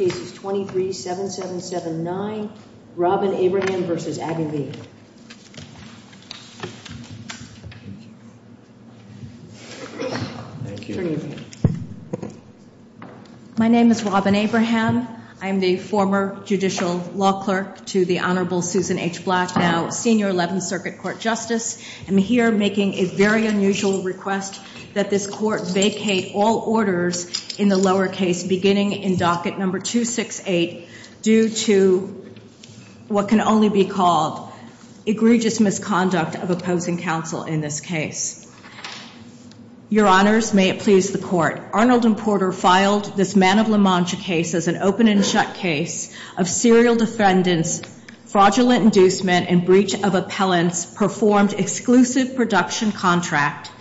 My name is Robin Abraham. I'm the former Judicial Law Clerk to the Honorable Susan H. Black, now Senior 11th Circuit Court Justice. I'm here making a very unusual request that this Court vacate all orders in the lower case beginning in docket number 268 due to what can only be called egregious misconduct of opposing counsel in this case. Your Honors, may it please the Court, Arnold and Porter filed this Man of La Mancha case as an open and shut case of serial defendants, fraudulent inducement, and breach of appellants performed exclusive production contract,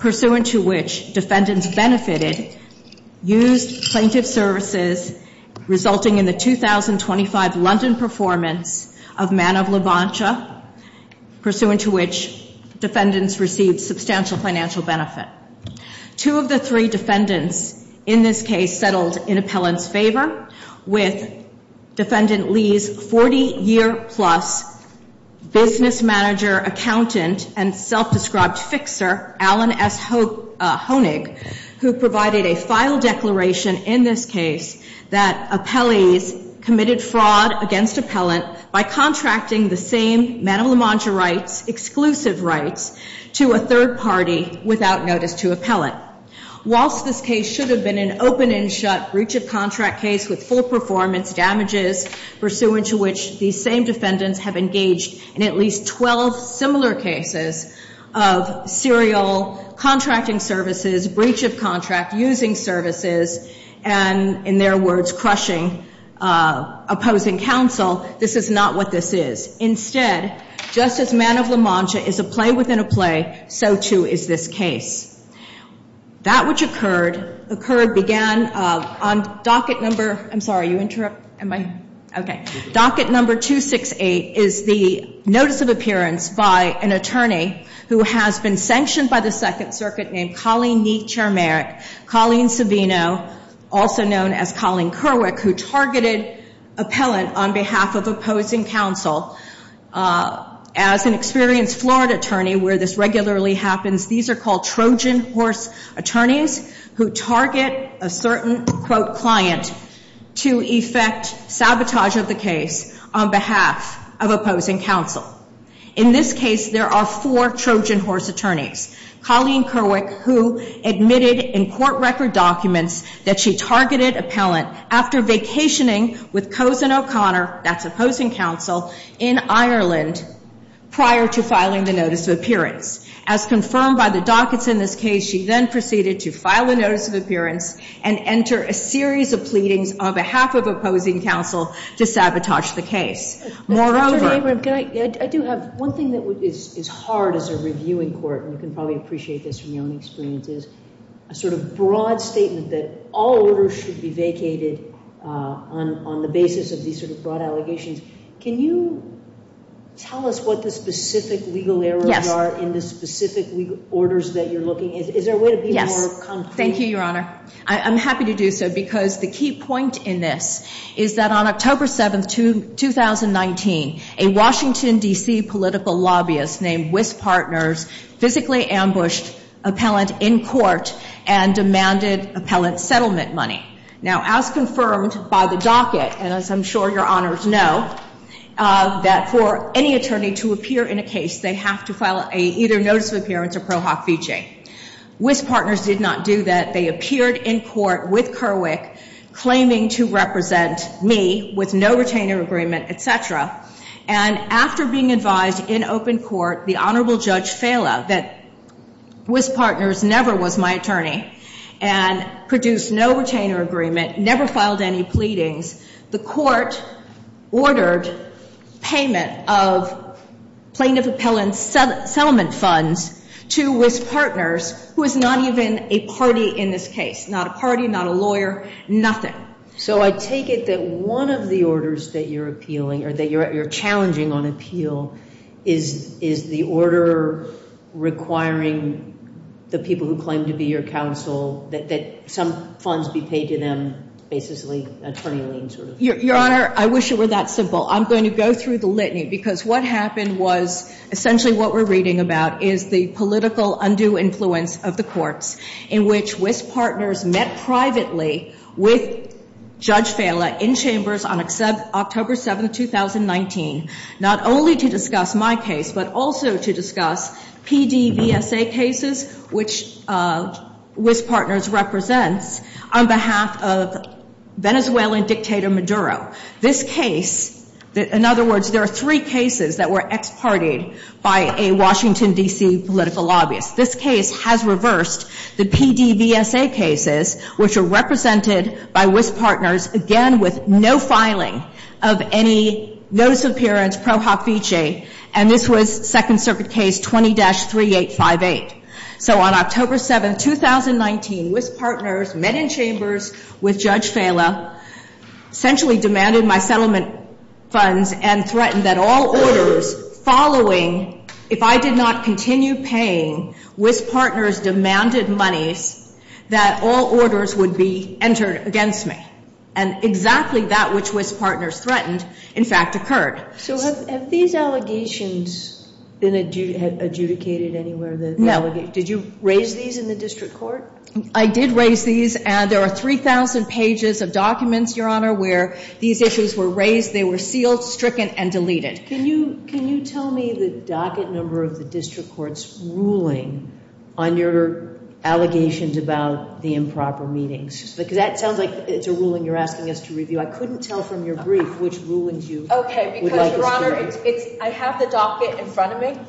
pursuant to which defendants benefited, used plaintiff services resulting in the 2025 London performance of Man of La Mancha, pursuant to which defendants received substantial financial benefit. Two of the three defendants in this case settled in appellant's favor with Defendant Leigh's 40-year-plus business manager, accountant, and self-described fixer, Alan S. Honig, who provided a file declaration in this case that appellees committed fraud against appellant by contracting the same Man of La Mancha rights, exclusive rights, to a third party without notice to appellant. Whilst this case should have been an open and shut breach of contract case with full performance damages, pursuant to which these same defendants have engaged in at least 12 similar cases of serial contracting services, breach of contract, using services, and in their words, crushing opposing counsel, this is not what this is. Instead, just as Man of La Mancha is a play within a play, so too is this case. That which occurred began on docket number, I'm sorry, you interrupt? Am I? Okay. Docket number 268 is the notice of appearance by an attorney who has been sanctioned by the Second Circuit named Colleen Neet Chermerick, Colleen Savino, also known as Colleen Kerwick, who targeted appellant on behalf of opposing counsel as an experienced Florida attorney where this regularly happens. These are called Trojan horse attorneys who target a certain quote client to effect sabotage of the case on behalf of opposing counsel. In this case, there are four Trojan horse attorneys. Colleen Kerwick, who admitted in court record documents that she targeted appellant after vacationing with Cozen O'Connor, that's opposing counsel, in Ireland prior to filing the notice of appearance. As confirmed by the dockets in this case, she then proceeded to file a notice of appearance and enter a series of pleadings on behalf of opposing counsel to sabotage the case. Moreover- Mr. Chairman, can I, I do have one thing that is hard as a reviewing court, and you can probably appreciate this from your own experiences, a sort of broad statement that all orders should be vacated on the basis of these sort of broad allegations. Can you tell us what the specific legal errors are in the specific legal orders that you're looking at? Is there a way to be more concrete? Thank you, your honor. I'm happy to do so because the key point in this is that on October 7th, 2019, a Washington, D.C. political lobbyist named Wyss Partners physically ambushed appellant in court and demanded appellant settlement money. Now, as confirmed by the docket, and as I'm sure your honors know, that for any attorney to appear in a case, they have to file either a notice of appearance or pro hoc vici. Wyss Partners did not do that. They appeared in court with Kerwick claiming to represent me with no retainer agreement, etc. And after being advised in open court, the Honorable Judge Fala, that Wyss Partners never was my attorney and produced no retainer agreement, never filed any pleadings, the court ordered payment of plaintiff appellant settlement funds to Wyss Partners, who is not even a party in this case. Not a party, not a lawyer, nothing. So I take it that one of the orders that you're appealing, or that you're challenging on appeal, is the order requiring the people who claim to be your counsel that some funds be paid to them, basically attorney lien sort of thing. Your honor, I wish it were that simple. I'm going to go through the litany because what happened was, essentially what we're reading about is the political undue influence of the courts in which Wyss Partners met privately with Judge Fala in chambers on October 7, 2019, not only to discuss my case, but also to discuss PDVSA cases, which Wyss Partners represents on behalf of Venezuelan dictator Maduro. This case, in other words, there are three cases that were ex-partied by a Washington, D.C. political lobbyist. This case has reversed the PDVSA cases, which are represented by Wyss Partners, again with no filing of any notice of appearance pro hofice, and this was Second Circuit case 20-3858. So on October 7, 2019, Wyss Partners met in chambers with Judge Fala, essentially demanded my settlement funds and threatened that all orders following, if I did not continue paying, Wyss Partners demanded monies, that all orders would be entered against me. And exactly that which Wyss Partners threatened, in fact, occurred. So have these allegations been adjudicated anywhere? No. Did you raise these in the district court? I did raise these, and there are 3,000 pages of documents, Your Honor, where these issues were raised. They were sealed, stricken, and deleted. Can you tell me the docket number of the district court's ruling on your allegations about the improper meetings? Because that sounds like it's a ruling you're asking us to review. I couldn't tell from your brief which rulings you would like us to review. Okay, because, Your Honor, I have the docket in front of me,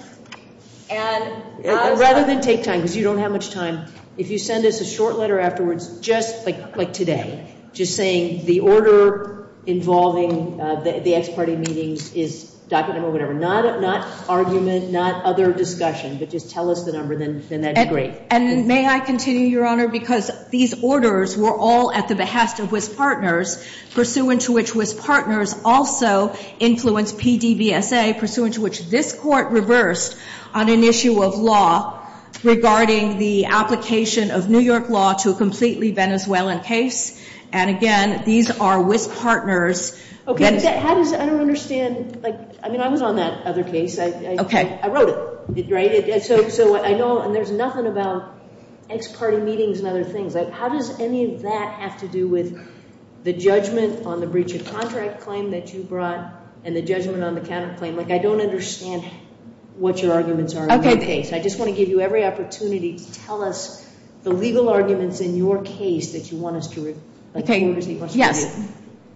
and I'm... Rather than take time, because you don't have much time, if you send us a short letter afterwards, just like today, just saying the order involving the ex-party meetings is docket number whatever, not argument, not other discussion, but just tell us the number, then that'd be great. And may I continue, Your Honor, because these orders were all at the behest of Wyss Partners, pursuant to which Wyss Partners also influenced PDVSA, pursuant to which this court reversed on an issue of law regarding the application of New York law to a completely Venezuelan case. And again, these are Wyss Partners. Okay, but how does... I don't understand... I mean, I was on that other case. Okay. I wrote it, right? So I know... And there's nothing about ex-party meetings and other things. How does any of that have to do with the judgment on the breach of contract claim that you brought and the judgment on the counterclaim? I don't understand what your arguments are in that case. I just want to give you every opportunity to tell us the legal arguments in your case that you want us to review. Okay, yes.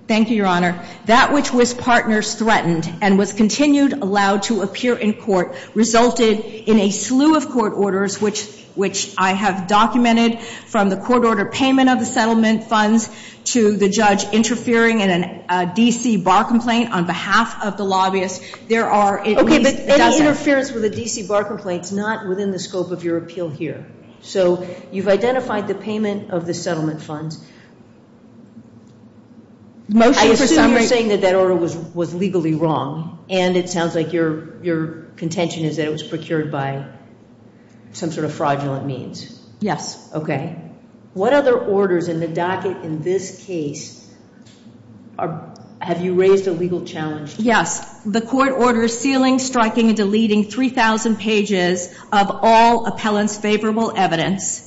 Thank you, Your Honor. That which Wyss Partners threatened and was continued allowed to appear in court resulted in a slew of court orders, which I have documented from the court order payment of the settlement funds to the judge interfering in a DC bar complaint on behalf of the lobbyist. Okay, but any interference with a DC bar complaint is not within the scope of your appeal here. So you've identified the payment of the settlement funds. Motion for summary... I assume you're saying that that order was legally wrong, and it sounds like your contention is that it was procured by some sort of fraudulent means. Yes. Okay. What other orders in the docket in this case have you raised a legal challenge to? Yes, the court order sealing, striking, and deleting 3,000 pages of all appellant's favorable evidence,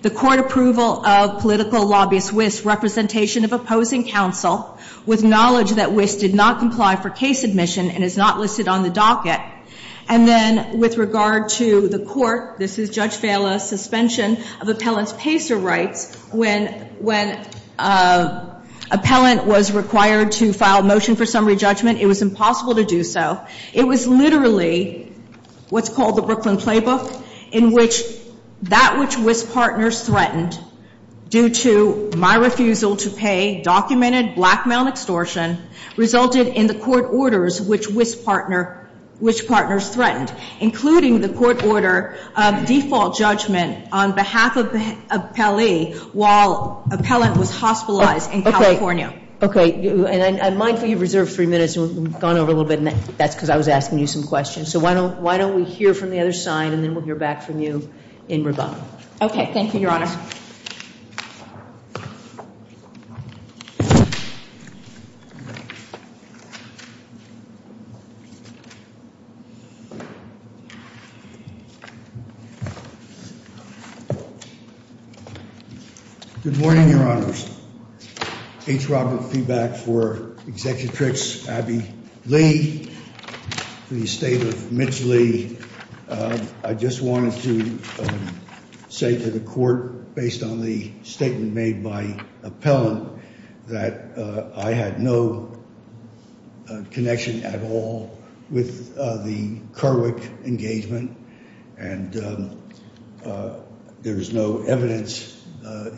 the court approval of political lobbyist Wyss' representation of opposing counsel with knowledge that Wyss did not comply for case admission and is not listed on the docket, and then with regard to the court, this is Judge Vela's suspension of appellant's PACER rights. When appellant was required to file a motion for summary judgment, it was impossible to do so. It was literally what's called the Brooklyn Playbook, in which that which Wyss partners threatened due to my refusal to pay documented blackmail extortion resulted in the court orders which Wyss partners threatened, including the court order of default judgment on behalf of the appellee while appellant was hospitalized in California. And I'm mindful you've reserved three minutes and we've gone over a little bit, and that's because I was asking you some questions. So why don't we hear from the other side, and then we'll hear back from you in rebuttal. Okay. Thank you, Your Honor. Well, good morning, Your Honors. H. Robert Feeback for Executrix Abby Lee, the estate of Mitch Lee. I just wanted to say to the court, based on the statement made by appellant, that I had no connection at all with the Kerwick engagement. And there is no evidence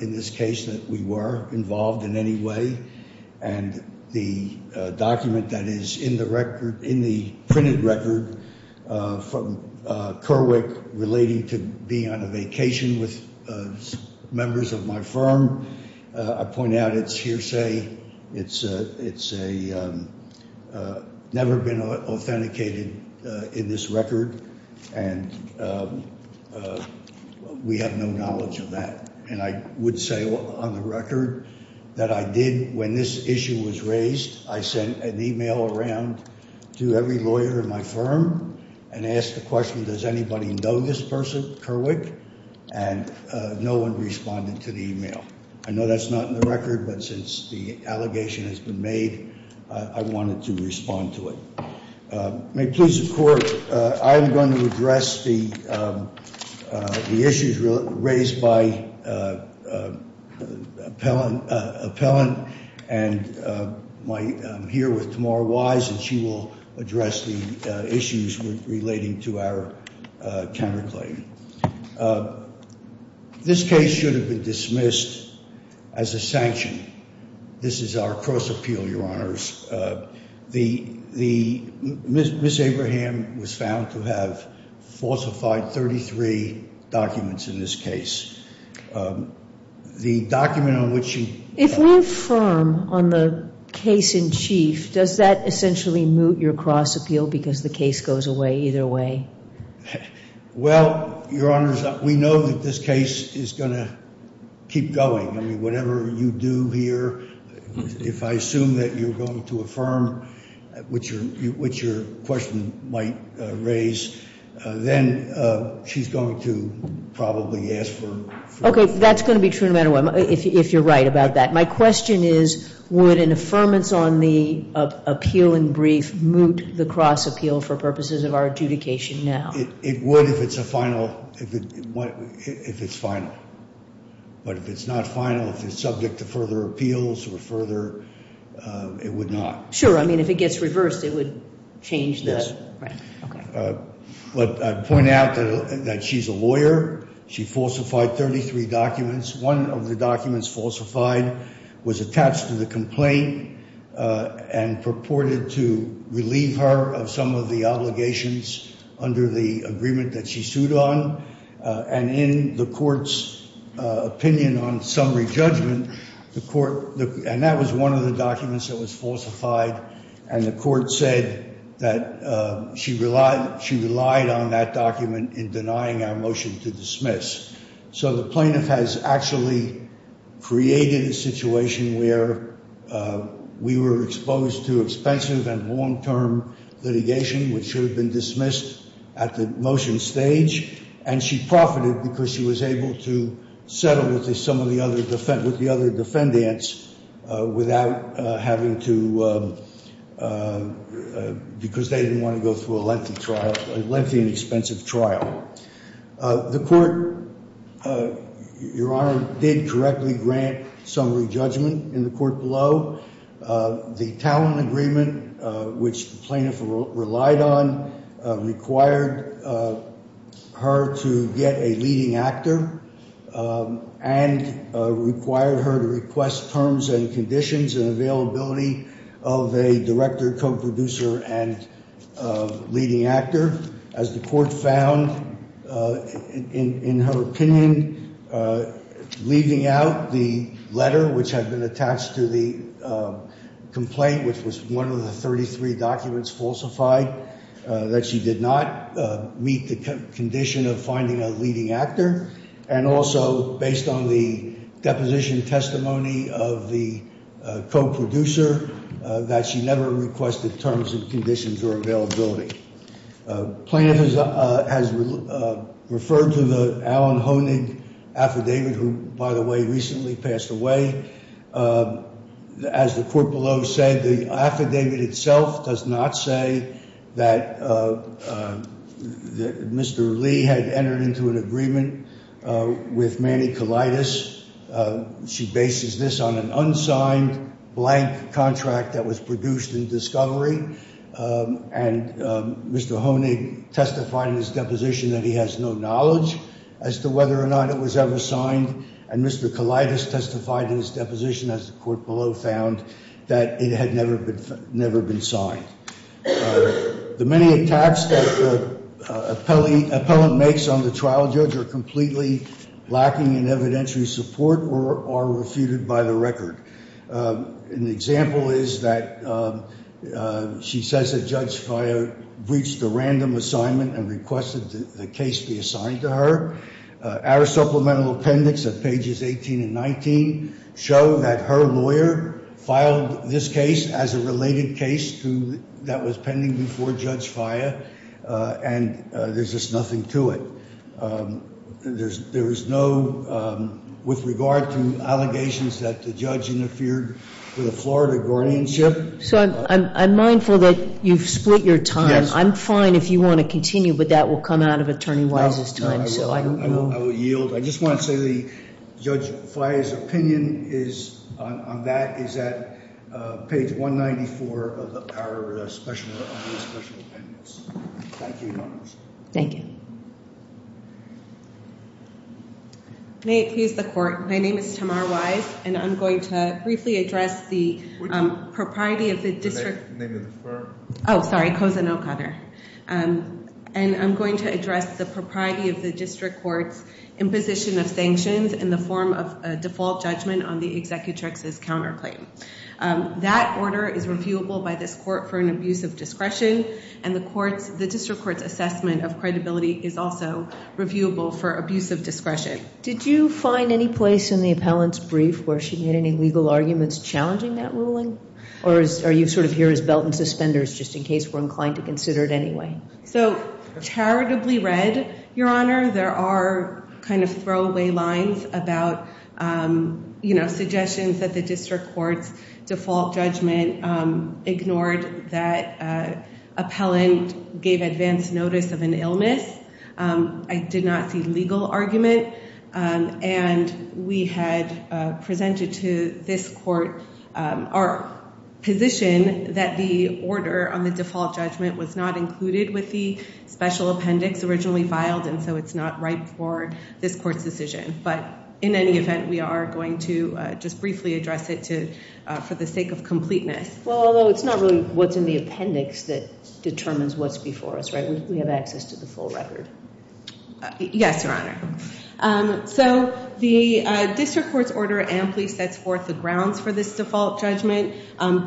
in this case that we were involved in any way. And the document that is in the record, in the printed record from Kerwick relating to being on a vacation with members of my firm, I point out it's hearsay. It's never been authenticated in this record, and we have no knowledge of that. And I would say on the record that I did, when this issue was raised, I sent an email around to every lawyer in my firm and asked the question, does anybody know this person, And no one responded to the email. I know that's not in the record, but since the allegation has been made, I wanted to respond to it. May it please the court, I am going to address the issues raised by appellant, and I'm here with Tamara Wise, and she will address the issues relating to our counterclaim. This case should have been dismissed as a sanction. This is our cross appeal, your honors. The Ms. Abraham was found to have falsified 33 documents in this case. The document on which you- If we're firm on the case in chief, does that essentially moot your cross appeal, because the case goes away either way? Well, your honors, we know that this case is going to keep going. I mean, whatever you do here, if I assume that you're going to affirm, which your question might raise, then she's going to probably ask for- Okay, that's going to be true no matter what, if you're right about that. My question is, would an affirmance on the appeal in brief moot the cross appeal for purposes of our adjudication now? It would if it's a final, if it's final. But if it's not final, if it's subject to further appeals or further, it would not. Sure, I mean, if it gets reversed, it would change the- Right, okay. But I'd point out that she's a lawyer. She falsified 33 documents. One of the documents falsified was attached to the complaint and purported to relieve her of some of the obligations under the agreement that she sued on. And in the court's opinion on summary judgment, the court, and that was one of the documents that was falsified, and the court said that she relied on that document in denying our motion to dismiss. So the plaintiff has actually created a situation where we were exposed to expensive and long-term litigation, which should have been dismissed at the motion stage. And she profited because she was able to settle with some of the other defendants without having to, because they didn't want to go through a lengthy trial, a lengthy and expensive trial. The court, Your Honor, did correctly grant summary judgment in the court below. The talent agreement, which the plaintiff relied on, required her to get a leading actor and required her to request terms and conditions and availability of a director, co-producer, and leading actor. As the court found in her opinion, leaving out the letter which had been attached to the complaint, which was one of the 33 documents falsified, that she did not meet the condition of finding a leading actor. And also, based on the deposition testimony of the co-producer, that she never requested terms and conditions or availability. Plaintiff has referred to the Alan Honig affidavit, who, by the way, recently passed away. As the court below said, the affidavit itself does not say that Mr. Lee had entered into an agreement with Manny Kalaitis. She bases this on an unsigned, blank contract that was produced in discovery. And Mr. Honig testified in his deposition that he has no knowledge as to whether or not it was ever signed. And Mr. Kalaitis testified in his deposition, as the court below found, that it had never been signed. The many attacks that the appellant makes on the trial judge are completely lacking in evidentiary support or are refuted by the record. An example is that she says that Judge Faya breached a random assignment and requested the case be assigned to her. Our supplemental appendix at pages 18 and 19 show that her lawyer filed this case as a related case that was pending before Judge Faya. And there's just nothing to it. And there is no, with regard to allegations that the judge interfered with a Florida guardianship. So I'm mindful that you've split your time. I'm fine if you want to continue, but that will come out of Attorney Wise's time. So I will yield. I just want to say that Judge Faya's opinion on that is at page 194 of our special appendix. Thank you, Your Honor. Thank you. May it please the court. My name is Tamar Wise. And I'm going to briefly address the propriety of the district court's imposition of sanctions in the form of a default judgment on the executrix's counterclaim. That order is reviewable by this court for an abuse of discretion. And the district court's assessment of credibility is also reviewable for abuse of discretion. Did you find any place in the appellant's brief where she made any legal arguments challenging that ruling? Or are you sort of here as belt and suspenders, just in case we're inclined to consider it So charitably read, Your Honor. There are kind of throwaway lines about suggestions that the district court's default judgment ignored that appellant gave advance notice of an illness. I did not see legal argument. And we had presented to this court our position that the order on the default judgment was not included with the special appendix originally filed. And so it's not right for this court's decision. But in any event, we are going to just briefly address it for the sake of completeness. Although it's not really what's in the appendix that determines what's before us, right? We have access to the full record. Yes, Your Honor. So the district court's order amply sets forth the grounds for this default judgment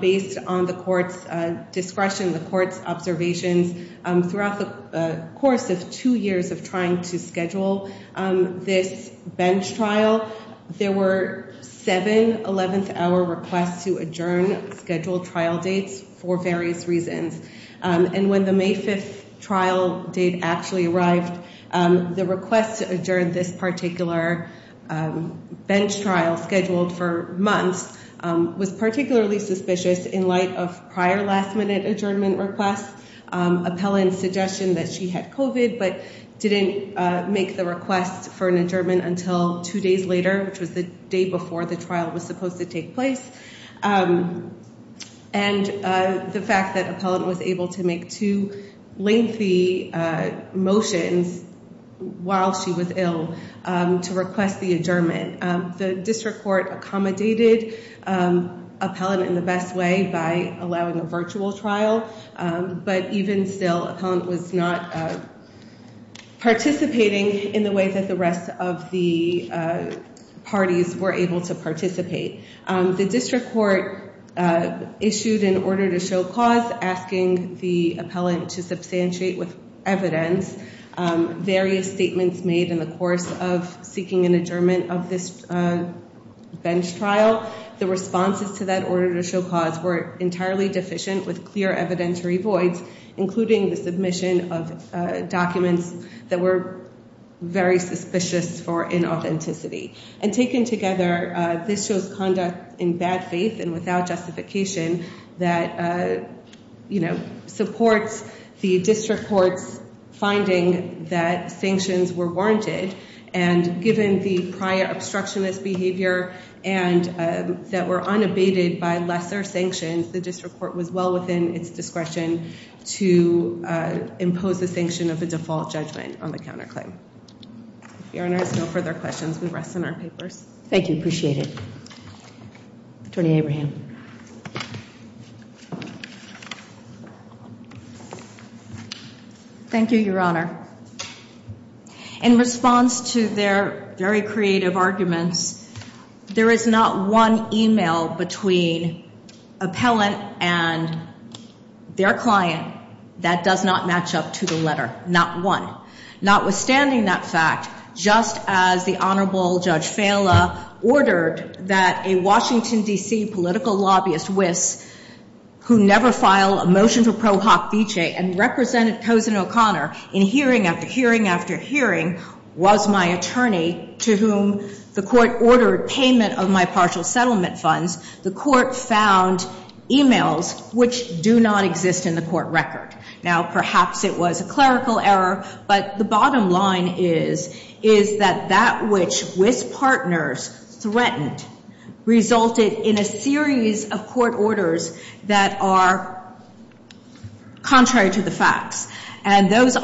based on the court's discretion, the court's observations throughout the course of two years of trying to schedule this bench trial. There were seven 11th hour requests to adjourn scheduled trial dates for various reasons. And when the May 5th trial date actually arrived, the request to adjourn this particular bench trial scheduled for months was particularly suspicious in light of prior last minute adjournment requests. Appellant's suggestion that she had COVID but didn't make the request for an adjournment until two days later, which was the day before the trial was supposed to take place. And the fact that appellant was able to make two lengthy motions while she was ill to request the adjournment. The district court accommodated appellant in the best way by allowing a virtual trial. But even still, appellant was not participating in the way that the rest of the parties were able to participate. The district court issued an order to show cause asking the appellant to substantiate with evidence various statements made in the course of seeking an adjournment of this bench trial. The responses to that order to show cause were entirely deficient with clear evidentiary voids, including the submission of documents that were very suspicious for inauthenticity. And taken together, this shows conduct in bad faith and without justification that, you know, supports the district court's finding that sanctions were warranted. And given the prior obstructionist behavior and that were unabated by lesser sanctions, the district court was well within its discretion to impose the sanction of a default judgment on the counterclaim. If Your Honor has no further questions, we rest in our papers. Thank you. Appreciate it. Attorney Abraham. Thank you, Your Honor. In response to their very creative arguments, there is not one email between appellant and their client that does not match up to the letter. Not one. Notwithstanding that fact, just as the Honorable Judge Fela ordered that a Washington, D.C. political lobbyist, Wyss, who never filed a motion to pro hoc vicee and represented O'Connor in hearing after hearing after hearing, was my attorney to whom the court ordered payment of my partial settlement funds, the court found emails which do not exist in the court record. Now, perhaps it was a clerical error, but the bottom line is that that which Wyss partners threatened resulted in a series of court orders that are contrary to the facts. And those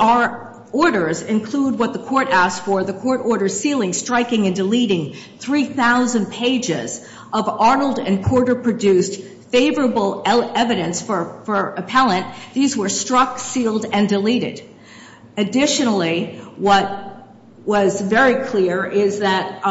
orders include what the court asked for, the court order sealing, striking, and deleting 3,000 pages of Arnold and Porter produced favorable evidence for appellant. These were struck, sealed, and deleted. Additionally, what was very clear is that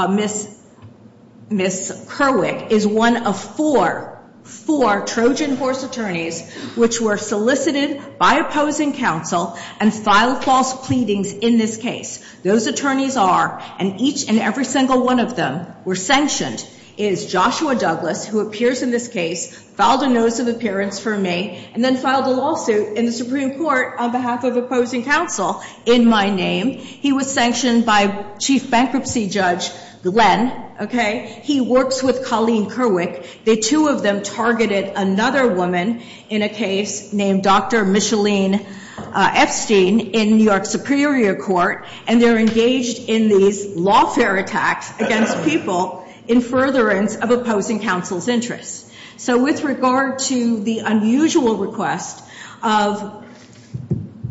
Ms. Kerwick is one of four, four Trojan horse attorneys which were solicited by opposing counsel and filed false pleadings in this case. Those attorneys are, and each and every single one of them were sanctioned, is Joshua Douglas who appears in this case, filed a notice of appearance for me, and then filed a lawsuit in the Supreme Court on behalf of opposing counsel in my name. He was sanctioned by Chief Bankruptcy Judge Glenn, okay? He works with Colleen Kerwick. The two of them targeted another woman in a case named Dr. Micheline Epstein in New York Superior Court, and they're engaged in these lawfare attacks against people in furtherance of opposing counsel's interests. So with regard to the unusual request of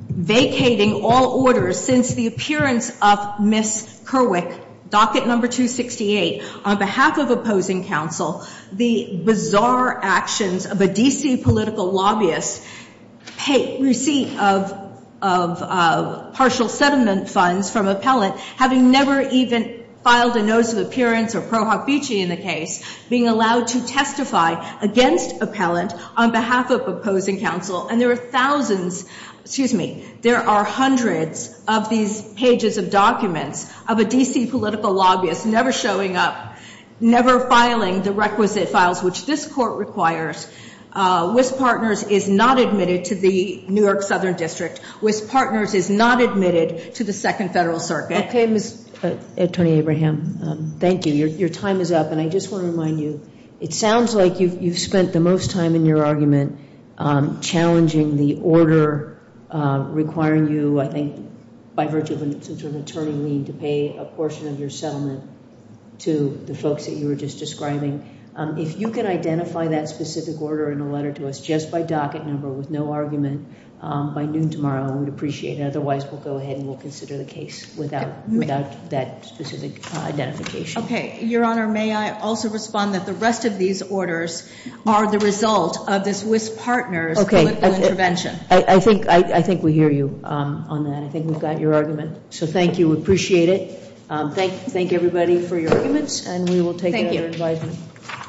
vacating all orders since the appearance of Ms. Kerwick, docket number 268, on behalf of opposing counsel, the bizarre actions of a D.C. political lobbyist, receipt of partial settlement funds from appellant, having never even filed a notice of appearance or pro hofici in the case, being allowed to testify against appellant on behalf of opposing counsel, and there are thousands, excuse me, there are hundreds of these pages of documents of a D.C. political lobbyist never showing up, never filing the requisite files which this court requires. Wyss Partners is not admitted to the New York Southern District. Wyss Partners is not admitted to the Second Federal Circuit. Okay, Attorney Abraham. Thank you. Your time is up, and I just want to remind you, it sounds like you've spent the most time in your argument challenging the order requiring you, I think, by virtue of some sort of attorney lien to pay a portion of your settlement to the folks that you were just describing. If you can identify that specific order in a letter to us just by docket number with no argument by noon tomorrow, I would appreciate it. Otherwise, we'll go ahead and we'll consider the case without that specific identification. Your Honor, may I also respond that the rest of these orders are the result of this Wyss Partners political intervention? I think we hear you on that. I think we've got your argument. So thank you. We appreciate it. Thank everybody for your arguments, and we will take your advice.